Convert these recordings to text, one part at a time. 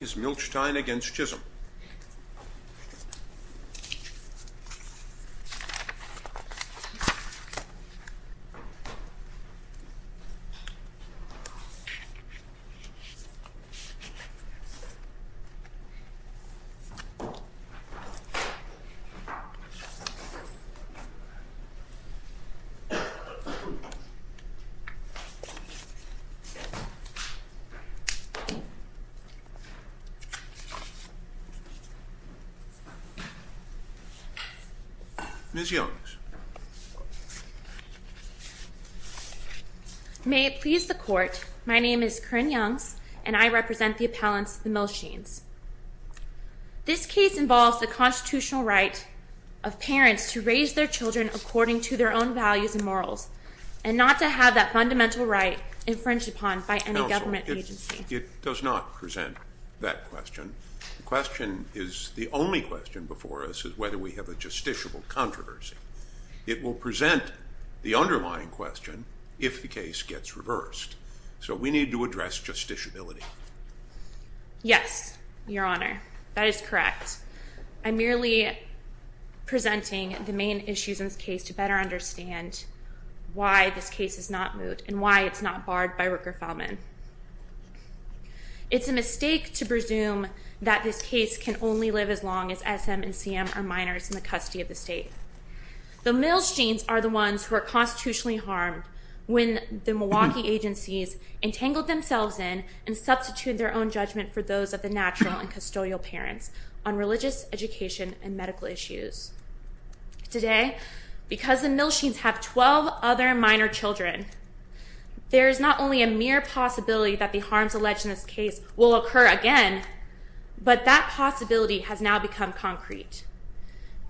is Milchtein against Chisholm. Ms. Youngs. May it please the Court, my name is Corinne Youngs and I represent the appellants, the Milchteins. This case involves the constitutional right of parents to raise their children according to their own values and morals, and not to have that fundamental right infringed upon by any government agency. It does not present that question. The question is, the only question before us is whether we have a justiciable controversy. It will present the underlying question if the case gets reversed. So we need to address justiciability. Yes, Your Honor, that is correct. I'm merely presenting the main issues in this case to better understand why this case is not moot and why it's not barred by Rooker-Feldman. It's a mistake to presume that this case can only live as long as S.M. and C.M. are minors in the custody of the state. The Milchteins are the ones who are constitutionally harmed when the Milwaukee agencies entangle themselves in and substitute their own judgment for those of the natural and custodial parents on religious education and medical issues. Today, because the Milchteins have 12 other minor children, there is not only a mere possibility that the harms alleged in this case will occur again, but that possibility has now become concrete.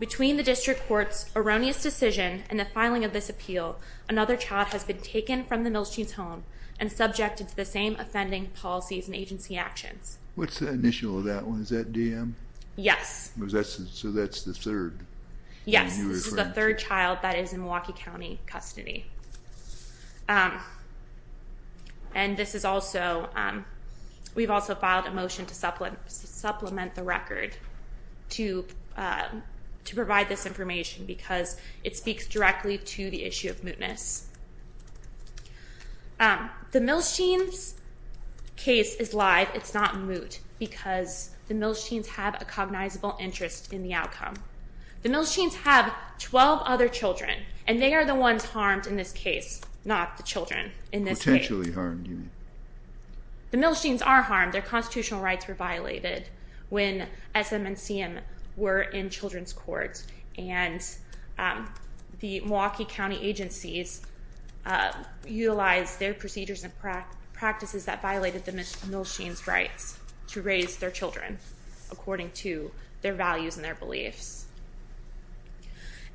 Between the district court's erroneous decision and the filing of this appeal, another child has been taken from the Milchteins' home and subjected to the same offending policies and agency actions. What's the initial of that one? Is that D.M.? Yes. So that's the third? Yes, this is the third child that is in Milwaukee County custody. And this is also, we've also filed a motion to supplement the record to provide this information because it speaks directly to the issue of mootness. The Milchteins' case is live. It's not moot because the Milchteins have a cognizable interest in the outcome. The Milchteins have 12 other children, and they are the ones harmed in this case, not the children in this case. Potentially harmed, you mean? The Milchteins are harmed. Their constitutional rights were violated when SM and CM were in children's courts, and the Milwaukee County agencies utilized their procedures and practices that violated the Milchteins' rights to raise their children, according to their values and their beliefs.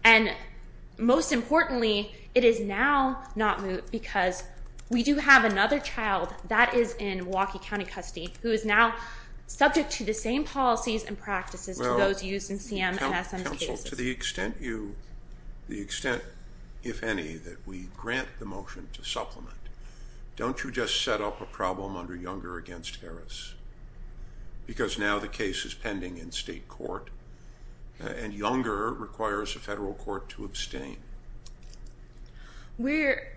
And most importantly, it is now not moot because we do have another child that is in Milwaukee County custody who is now subject to the same policies and practices as those used in CM and SM's cases. Well, counsel, to the extent you, the extent, if any, that we grant the motion to supplement, don't you just set up a problem under Younger against Harris? Because now the case is pending in state court, and Younger requires a federal court to abstain. We're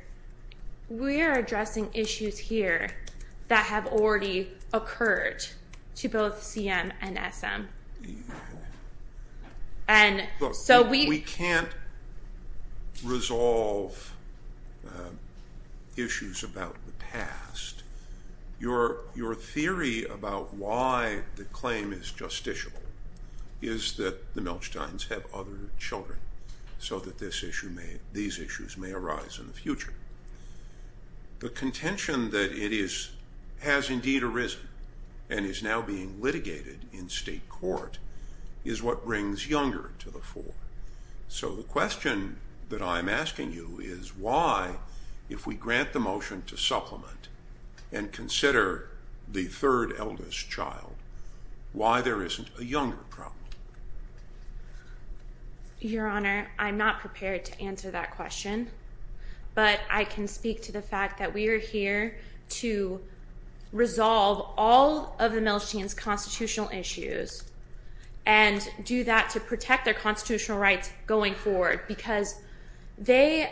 addressing issues here that have already occurred to both CM and SM. Look, we can't resolve issues about the past. Your theory about why the claim is justiciable is that the Milchteins have other children, so that these issues may arise in the future. The contention that it has indeed arisen and is now being litigated in state court is what brings Younger to the fore. So the question that I'm asking you is why, if we grant the motion to supplement and consider the third eldest child, why there isn't a Younger problem? Your Honor, I'm not prepared to answer that question, but I can speak to the fact that we are here to resolve all of the Milchtein's constitutional issues and do that to protect their constitutional rights going forward, because they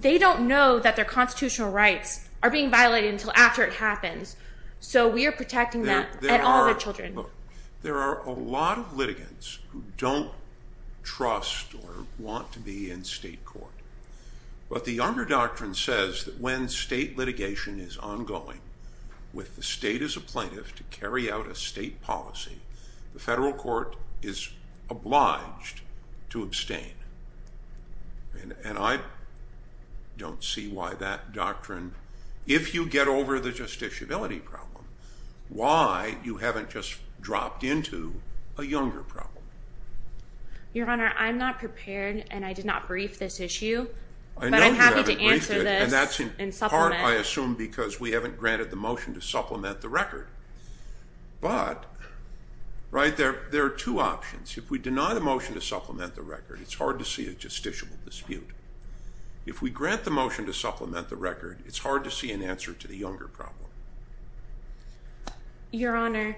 don't know that their constitutional rights are being violated until after it happens, so we are protecting that and all of their children. There are a lot of litigants who don't trust or want to be in state court, but the Younger Doctrine says that when state litigation is ongoing, with the state as a plaintiff to carry out a state policy, the federal court is obliged to abstain. And I don't see why that doctrine, if you get over the justiciability problem, why you haven't just dropped into a Younger problem. Your Honor, I'm not prepared and I did not brief this issue, but I'm happy to answer this and supplement. In part, I assume, because we haven't granted the motion to supplement the record, but there are two options. If we deny the motion to supplement the record, it's hard to see a justiciable dispute. If we grant the motion to supplement the record, it's hard to see an answer to the Younger problem. Your Honor,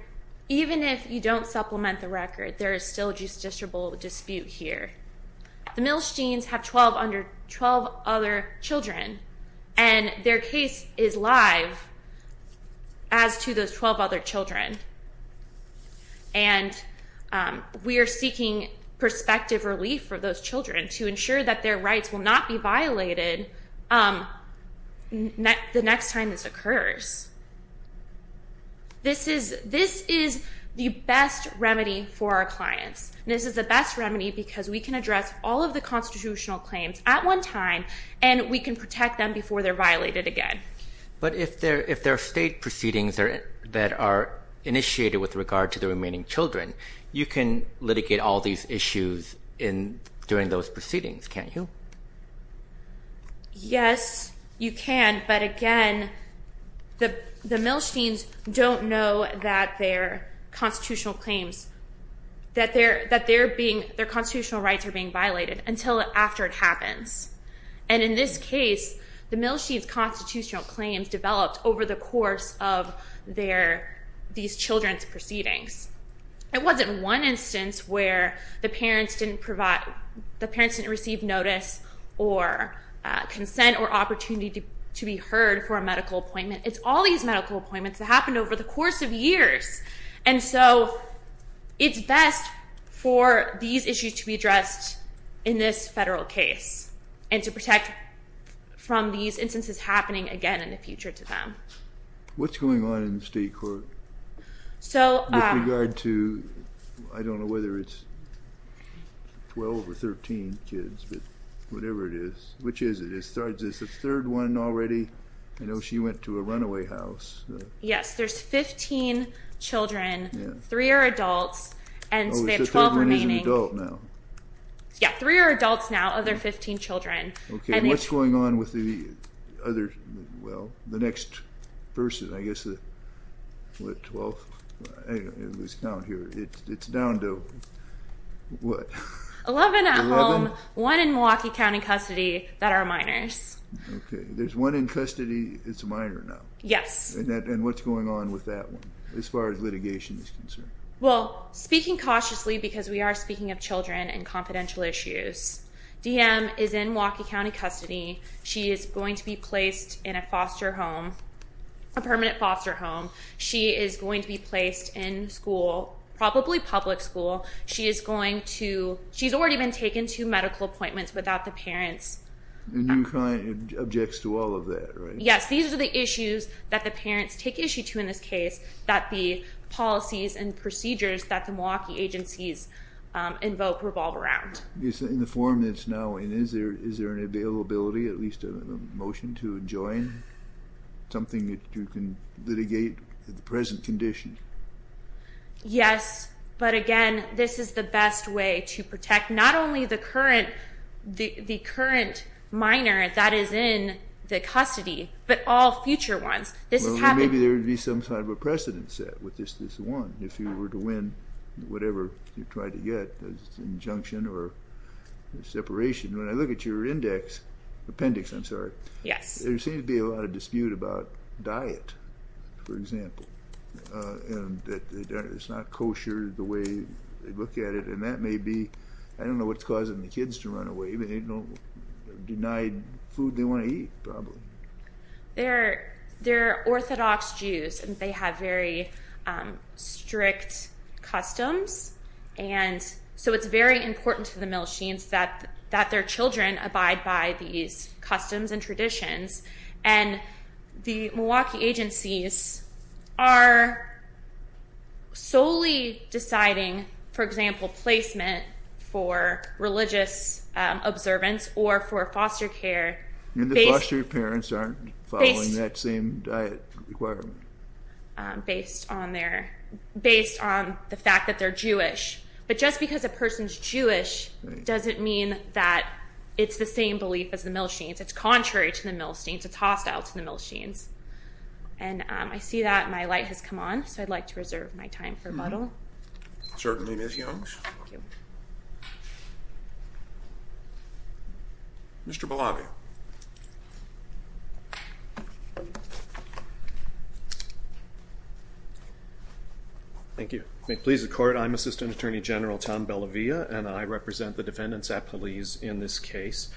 even if you don't supplement the record, there is still a justiciable dispute here. The Milstein's have 12 other children, and their case is live as to those 12 other children. And we are seeking perspective relief for those children to ensure that their rights will not be violated the next time this occurs. This is the best remedy for our clients. This is the best remedy because we can address all of the constitutional claims at one time, and we can protect them before they're violated again. But if there are state proceedings that are initiated with regard to the remaining children, you can litigate all these issues during those proceedings, can't you? Yes, you can. But again, the Milstein's don't know that they're constitutional claims, that their constitutional rights are being violated until after it happens. And in this case, the Milstein's constitutional claims developed over the course of these children's proceedings. It wasn't one instance where the parents didn't receive notice or consent or opportunity to be heard for a medical appointment. It's all these medical appointments that happened over the course of years. And so it's best for these issues to be addressed in this federal case and to protect from these instances happening again in the future to them. What's going on in the state court with regard to, I don't know whether it's 12 or 13 kids, but whatever it is, which is it? Is there a third one already? I know she went to a runaway house. Yes, there's 15 children. Three are adults, and so they have 12 remaining. So there is an adult now. Yeah, three are adults now, other 15 children. Okay, and what's going on with the other, well, the next person? I guess the, what, 12th? Anyway, let's count here. It's down to what? 11 at home, one in Milwaukee County custody that are minors. Okay, there's one in custody that's a minor now. Yes. And what's going on with that one as far as litigation is concerned? Well, speaking cautiously because we are speaking of children and confidential issues, DM is in Milwaukee County custody. She is going to be placed in a foster home, a permanent foster home. She is going to be placed in school, probably public school. She is going to, she's already been taken to medical appointments without the parents. And your client objects to all of that, right? Yes, these are the issues that the parents take issue to in this case, that the policies and procedures that the Milwaukee agencies invoke revolve around. In the form that it's now in, is there an availability, at least a motion to join, something that you can litigate at the present condition? Yes, but again, this is the best way to protect not only the current minor that is in the custody, but all future ones. Well, maybe there would be some sort of a precedent set with this one, if you were to win whatever you try to get as injunction or separation. When I look at your index, appendix, I'm sorry, there seems to be a lot of dispute about diet, for example, and that it's not kosher the way they look at it. And that may be, I don't know what's causing the kids to run away. They're denied food they want to eat, probably. They're Orthodox Jews, and they have very strict customs, and so it's very important to the Milsheens that their children abide by these customs and traditions. And the Milwaukee agencies are solely deciding, for example, placement for religious observance or for foster care. And the foster parents aren't following that same diet requirement. Based on the fact that they're Jewish. But just because a person's Jewish doesn't mean that it's the same belief as the Milsheens. It's contrary to the Milsheens. It's hostile to the Milsheens. And I see that my light has come on, so I'd like to reserve my time for rebuttal. Certainly, Ms. Youngs. Mr. Bellavia. Thank you. May it please the Court, I'm Assistant Attorney General Tom Bellavia, and I represent the defendants' appellees in this case.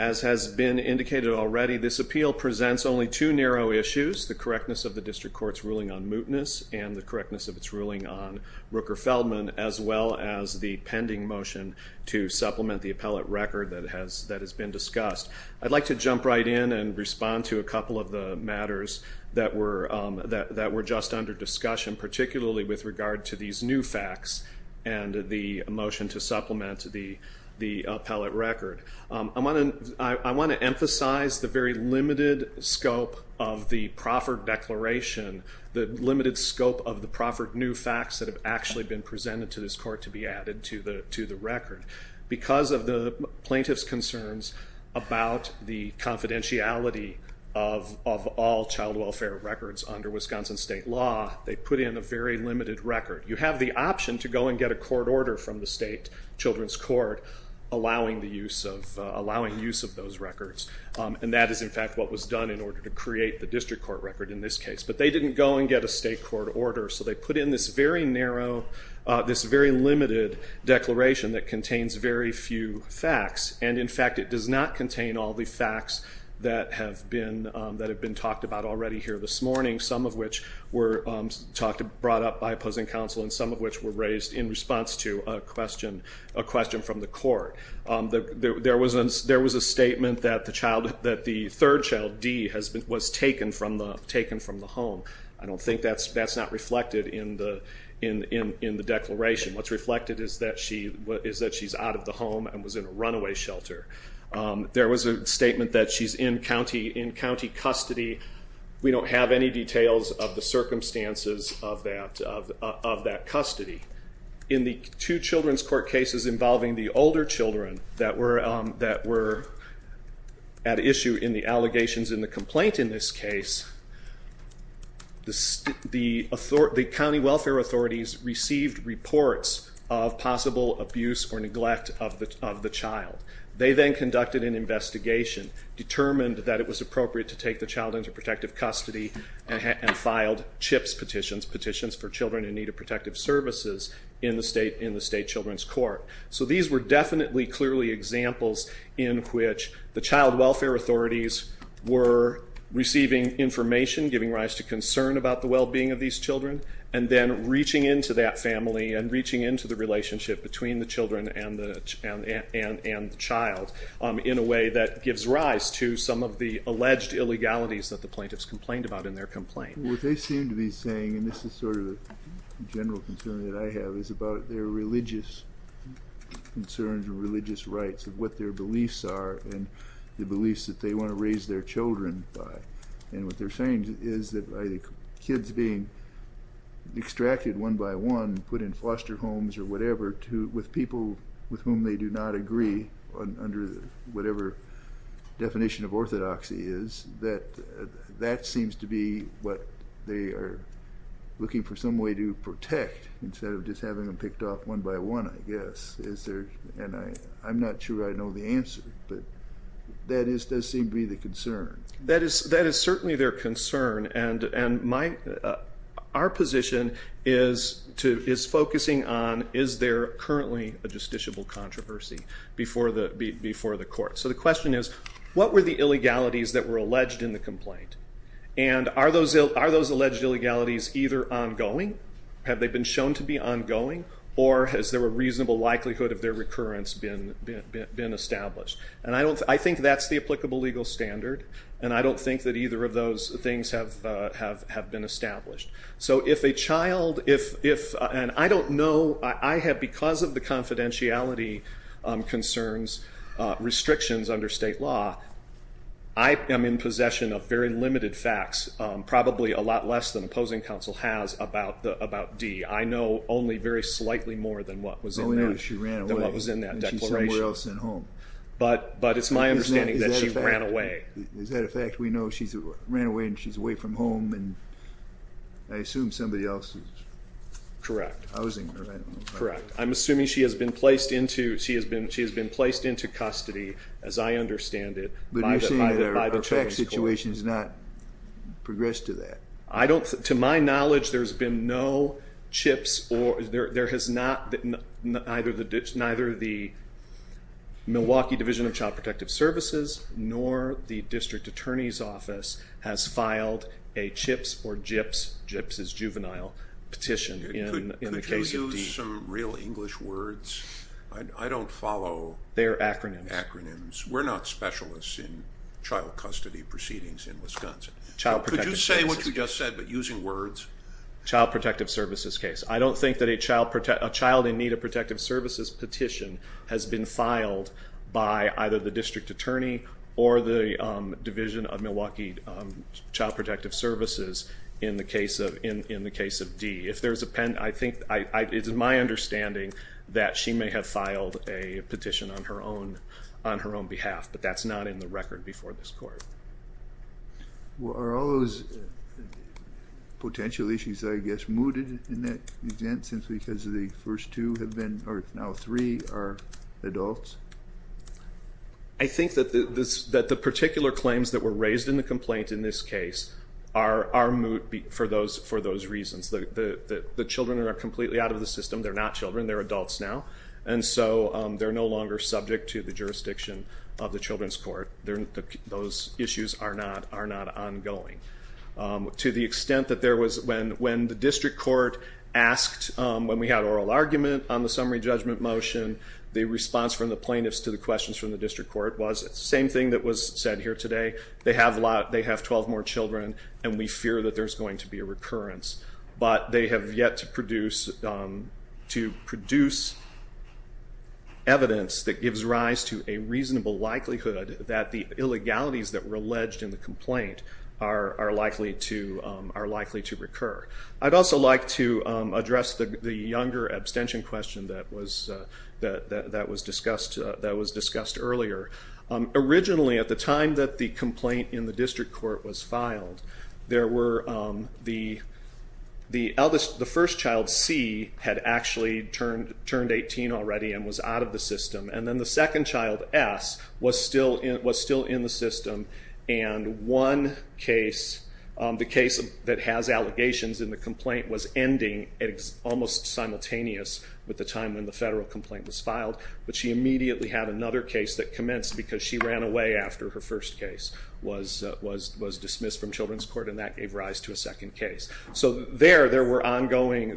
As has been indicated already, this appeal presents only two narrow issues, the correctness of the district court's ruling on mootness and the correctness of its ruling on Rooker-Feldman, as well as the pending motion to supplement the appellate record that has been discussed. I'd like to jump right in and respond to a couple of the matters that were just under discussion, particularly with regard to these new facts and the motion to supplement the appellate record. I want to emphasize the very limited scope of the proffered declaration, the limited scope of the proffered new facts that have actually been presented to this court to be added to the record. Because of the plaintiff's concerns about the confidentiality of all child welfare records under Wisconsin state law, they put in a very limited record. You have the option to go and get a court order from the state children's court allowing use of those records, and that is, in fact, what was done in order to create the district court record in this case. But they didn't go and get a state court order, so they put in this very narrow, this very limited declaration that contains very few facts. And, in fact, it does not contain all the facts that have been talked about already here this morning, some of which were brought up by opposing counsel and some of which were raised in response to a question from the court. There was a statement that the third child, D, was taken from the home. I don't think that's not reflected in the declaration. What's reflected is that she's out of the home and was in a runaway shelter. There was a statement that she's in county custody. We don't have any details of the circumstances of that custody. In the two children's court cases involving the older children that were at issue in the allegations in the complaint in this case, the county welfare authorities received reports of possible abuse or neglect of the child. They then conducted an investigation, determined that it was appropriate to take the child into protective custody, and filed CHIPS petitions, Petitions for Children in Need of Protective Services, in the state children's court. So these were definitely, clearly examples in which the child welfare authorities were receiving information, giving rise to concern about the well-being of these children, and then reaching into that family and reaching into the relationship between the children and the child in a way that gives rise to some of the alleged illegalities that the plaintiffs complained about in their complaint. What they seem to be saying, and this is sort of a general concern that I have, is about their religious concerns or religious rights of what their beliefs are and the beliefs that they want to raise their children by. And what they're saying is that kids being extracted one by one, put in foster homes or whatever, with people with whom they do not agree, under whatever definition of orthodoxy is, that that seems to be what they are looking for some way to protect, instead of just having them picked off one by one, I guess. And I'm not sure I know the answer, but that does seem to be the concern. That is certainly their concern, and our position is focusing on, is there currently a justiciable controversy before the court? So the question is, what were the illegalities that were alleged in the complaint? And are those alleged illegalities either ongoing? Have they been shown to be ongoing? Or has there a reasonable likelihood of their recurrence been established? And I think that's the applicable legal standard, and I don't think that either of those things have been established. So if a child, and I don't know, I have, because of the confidentiality concerns, restrictions under state law, I am in possession of very limited facts, probably a lot less than opposing counsel has about Dee. I know only very slightly more than what was in that declaration. I only know that she ran away and she's somewhere else at home. But it's my understanding that she ran away. Is that a fact? We know she ran away and she's away from home, and I assume somebody else is housing her. Correct. Correct. I'm assuming she has been placed into custody, as I understand it. But you're saying that our facts situation has not progressed to that. To my knowledge, there has been no CHIPS, neither the Milwaukee Division of Child Protective Services, nor the District Attorney's Office has filed a CHIPS or GIPS, GIPS is juvenile, petition in the case of Dee. Could you use some real English words? I don't follow their acronyms. We're not specialists in child custody proceedings in Wisconsin. Could you say what you just said, but using words? Child Protective Services case. I don't think that a child in need of protective services petition has been filed by either the District Attorney or the Division of Milwaukee Child Protective Services in the case of Dee. I think it's my understanding that she may have filed a petition on her own behalf, but that's not in the record before this Court. Are all those potential issues, I guess, mooted in that instance because the first two have been, or now three, are adults? I think that the particular claims that were raised in the complaint in this case are moot for those reasons. The children are completely out of the system. They're not children. They're adults now. And so they're no longer subject to the jurisdiction of the Children's Court. Those issues are not ongoing. To the extent that when the District Court asked, when we had oral argument on the summary judgment motion, the response from the plaintiffs to the questions from the District Court was the same thing that was said here today. They have 12 more children, and we fear that there's going to be a recurrence. But they have yet to produce evidence that gives rise to a reasonable likelihood that the illegalities that were alleged in the complaint are likely to recur. I'd also like to address the younger abstention question that was discussed earlier. Originally, at the time that the complaint in the District Court was filed, the first child, C, had actually turned 18 already and was out of the system, and then the second child, S, was still in the system. And one case, the case that has allegations in the complaint, was ending almost simultaneous with the time when the federal complaint was filed. But she immediately had another case that commenced because she ran away after her first case was dismissed from Children's Court, and that gave rise to a second case. So there, there were ongoing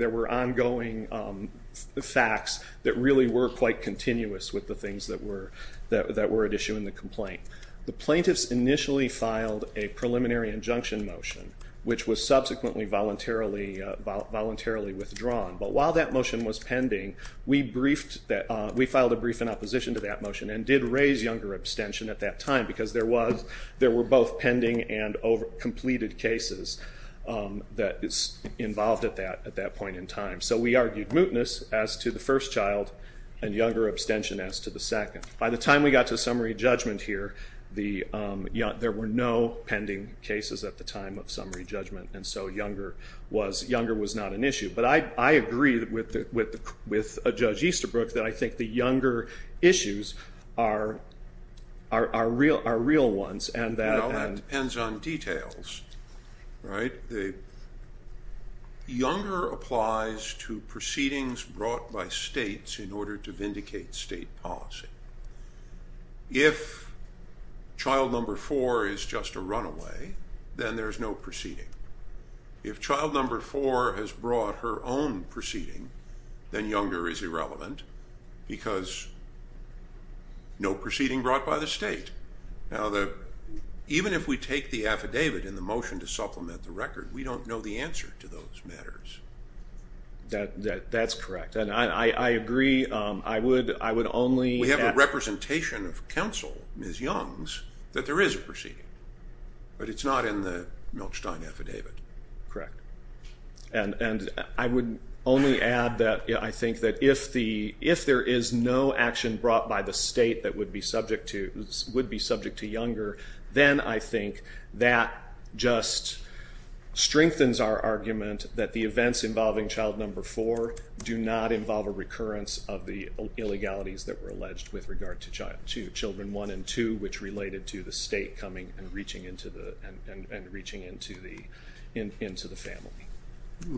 facts that really were quite continuous with the things that were at issue in the complaint. The plaintiffs initially filed a preliminary injunction motion, which was subsequently voluntarily withdrawn. But while that motion was pending, we filed a brief in opposition to that motion and did raise younger abstention at that time because there were both pending and completed cases that involved at that point in time. So we argued mootness as to the first child and younger abstention as to the second. By the time we got to summary judgment here, there were no pending cases at the time of summary judgment, and so younger was not an issue. But I agree with Judge Easterbrook that I think the younger issues are real ones and that... Well, that depends on details, right? Younger applies to proceedings brought by states in order to vindicate state policy. If child number four is just a runaway, then there's no proceeding. If child number four has brought her own proceeding, then younger is irrelevant because no proceeding brought by the state. Now, even if we take the affidavit in the motion to supplement the record, we don't know the answer to those matters. That's correct, and I agree. We have a representation of counsel, Ms. Young's, that there is a proceeding, but it's not in the Milchstein affidavit. Correct. And I would only add that I think that if there is no action brought by the state that would be subject to younger, then I think that just strengthens our argument that the events involving child number four do not involve a recurrence of the illegalities that were alleged with regard to children one and two, which related to the state coming and reaching into the family.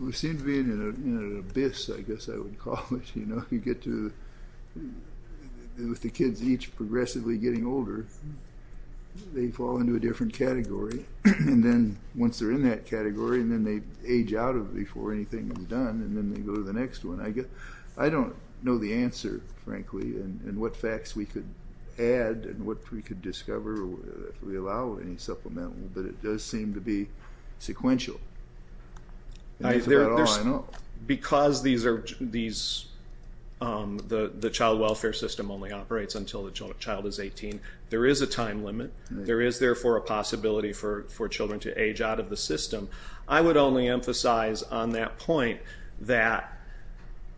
We seem to be in an abyss, I guess I would call it. You get to, with the kids each progressively getting older, they fall into a different category, and then once they're in that category and then they age out of it before anything is done, and then they go to the next one. I don't know the answer, frankly, and what facts we could add and what we could discover if we allow any supplement, but it does seem to be sequential. Because the child welfare system only operates until the child is 18, there is a time limit. There is, therefore, a possibility for children to age out of the system. I would only emphasize on that point that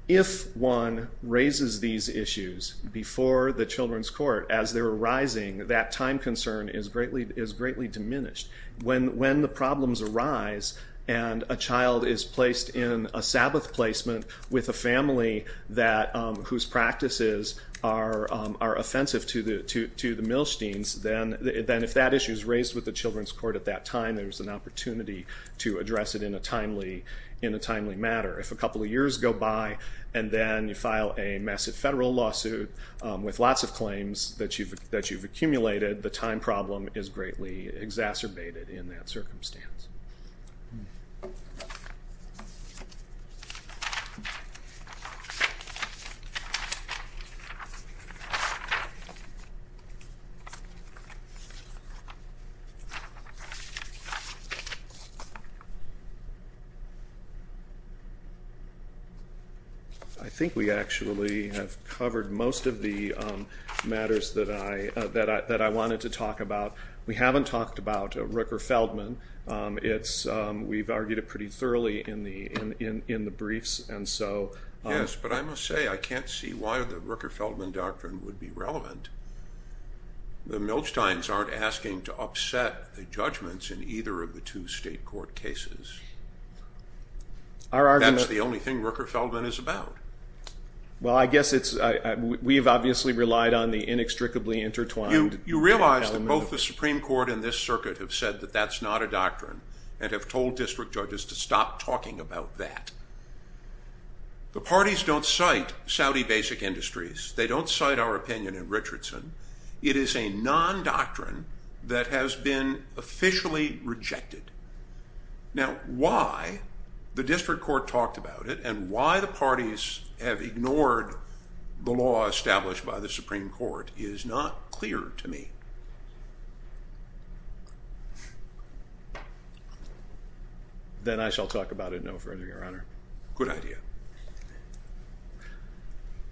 if one raises these issues before the children's court, as they're arising, that time concern is greatly diminished. When the problems arise and a child is placed in a Sabbath placement with a family whose practices are offensive to the Milsteins, then if that issue is raised with the children's court at that time, there's an opportunity to address it in a timely matter. If a couple of years go by and then you file a massive federal lawsuit with lots of claims that you've accumulated, the time problem is greatly exacerbated in that circumstance. I think we actually have covered most of the matters that I wanted to talk about. We haven't talked about Rooker-Feldman. We've argued it pretty thoroughly in the briefs. Yes, but I must say I can't see why the Rooker-Feldman doctrine would be relevant. The Milsteins aren't asking to upset the judgments in either of the two state court cases. That's the only thing Rooker-Feldman is about. Well, I guess we've obviously relied on the inextricably intertwined element. You realize that both the Supreme Court and this circuit have said that that's not a doctrine and have told district judges to stop talking about that. The parties don't cite Saudi basic industries. They don't cite our opinion in Richardson. It is a non-doctrine that has been officially rejected. Now, why the district court talked about it and why the parties have ignored the law established by the Supreme Court is not clear to me. Then I shall talk about it no further, Your Honor. Good idea.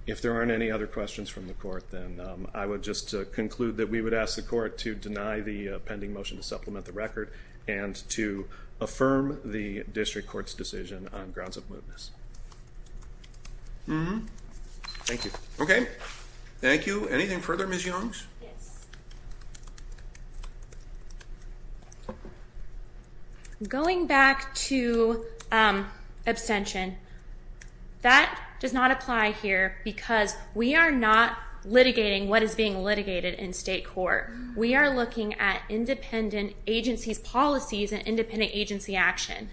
If there aren't any other questions from the court, then I would just conclude that we would ask the court to deny the pending motion to supplement the record and to affirm the district court's decision on grounds of mootness. Thank you. Okay. Thank you. Anything further, Ms. Youngs? Yes. Going back to abstention, that does not apply here because we are not litigating what is being litigated in state court. We are looking at independent agencies' policies and independent agency action.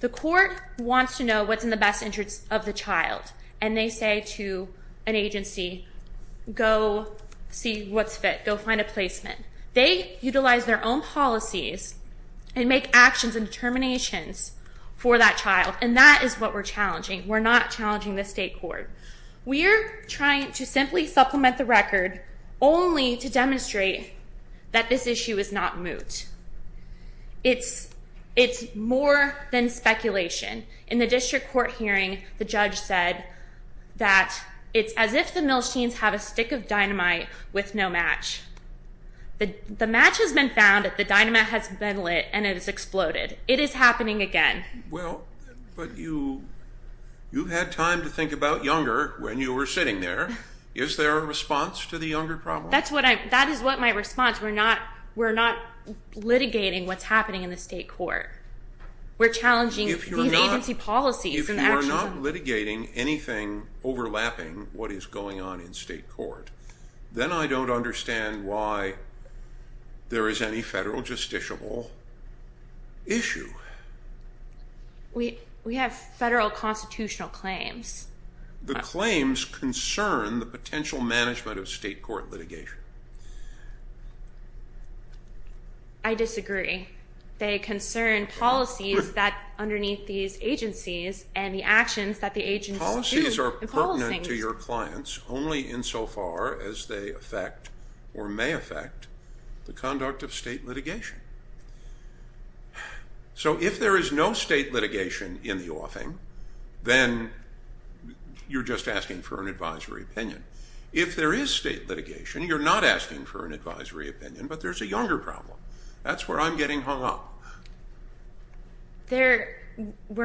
The court wants to know what's in the best interest of the child, and they say to an agency, go see what's fit. Go find a placement. They utilize their own policies and make actions and determinations for that child, and that is what we're challenging. We're not challenging the state court. We're trying to simply supplement the record only to demonstrate that this issue is not moot. It's more than speculation. In the district court hearing, the judge said that it's as if the Milstein's have a stick of dynamite with no match. The match has been found. The dynamite has been lit, and it has exploded. It is happening again. Well, but you had time to think about Younger when you were sitting there. Is there a response to the Younger problem? That is what my response. We're not litigating what's happening in the state court. We're challenging these agency policies and actions. If you're not litigating anything overlapping what is going on in state court, then I don't understand why there is any federal justiciable issue. We have federal constitutional claims. The claims concern the potential management of state court litigation. I disagree. They concern policies that underneath these agencies and the actions that the agencies do. They're pertinent to your clients only insofar as they affect or may affect the conduct of state litigation. So if there is no state litigation in the offing, then you're just asking for an advisory opinion. If there is state litigation, you're not asking for an advisory opinion, but there's a Younger problem. That's where I'm getting hung up. We're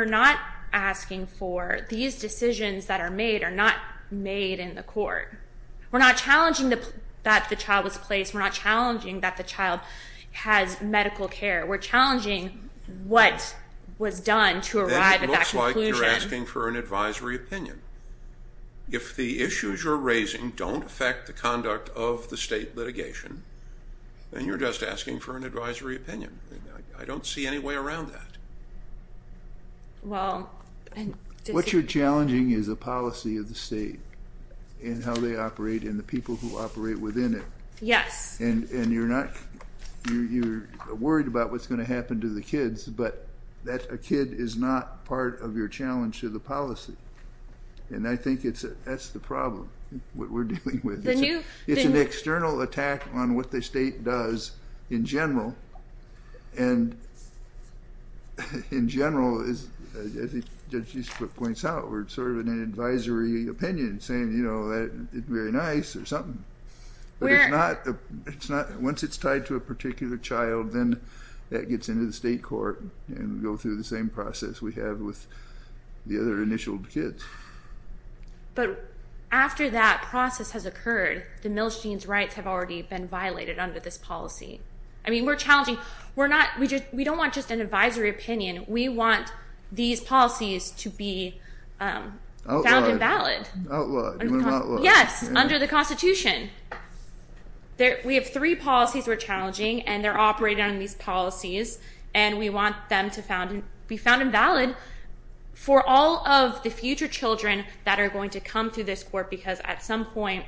not asking for these decisions that are made are not made in the court. We're not challenging that the child was placed. We're not challenging that the child has medical care. We're challenging what was done to arrive at that conclusion. Then it looks like you're asking for an advisory opinion. If the issues you're raising don't affect the conduct of the state litigation, then you're just asking for an advisory opinion. I don't see any way around that. What you're challenging is a policy of the state and how they operate and the people who operate within it. Yes. And you're worried about what's going to happen to the kids, but a kid is not part of your challenge to the policy. And I think that's the problem, what we're dealing with. It's an external attack on what the state does in general. And in general, as Judge Eastwood points out, we're sort of in an advisory opinion saying, you know, that's very nice or something. But once it's tied to a particular child, then that gets into the state court and we go through the same process we have with the other initial kids. But after that process has occurred, the Milstein's rights have already been violated under this policy. I mean, we're challenging. We don't want just an advisory opinion. We want these policies to be found invalid. Outlawed. Yes, under the Constitution. We have three policies we're challenging, and they're operating on these policies, and we want them to be found invalid for all of the future children that are going to come through this court, because at some point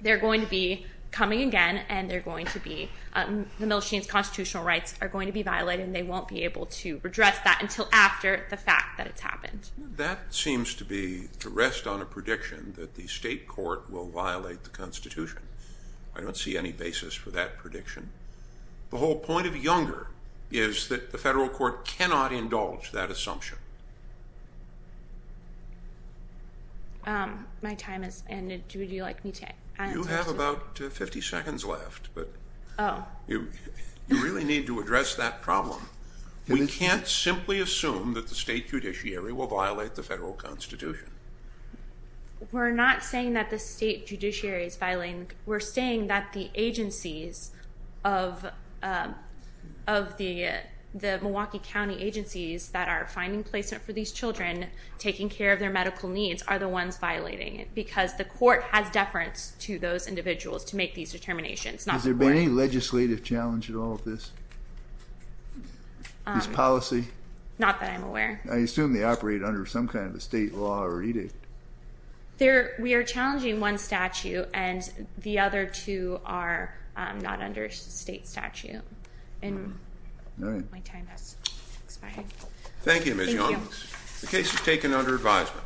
they're going to be coming again and the Milstein's constitutional rights are going to be violated and they won't be able to redress that until after the fact that it's happened. That seems to rest on a prediction that the state court will violate the Constitution. I don't see any basis for that prediction. The whole point of Younger is that the federal court cannot indulge that assumption. My time has ended. Would you like me to answer? You have about 50 seconds left, but you really need to address that problem. We can't simply assume that the state judiciary will violate the federal Constitution. We're not saying that the state judiciary is violating. We're saying that the agencies of the Milwaukee County agencies that are finding placement for these children, taking care of their medical needs, are the ones violating it, because the court has deference to those individuals to make these determinations. Has there been any legislative challenge at all to this policy? Not that I'm aware. I assume they operate under some kind of a state law or edict. We are challenging one statute, and the other two are not under state statute. My time has expired. Thank you, Ms. Younger. The case is taken under advisement.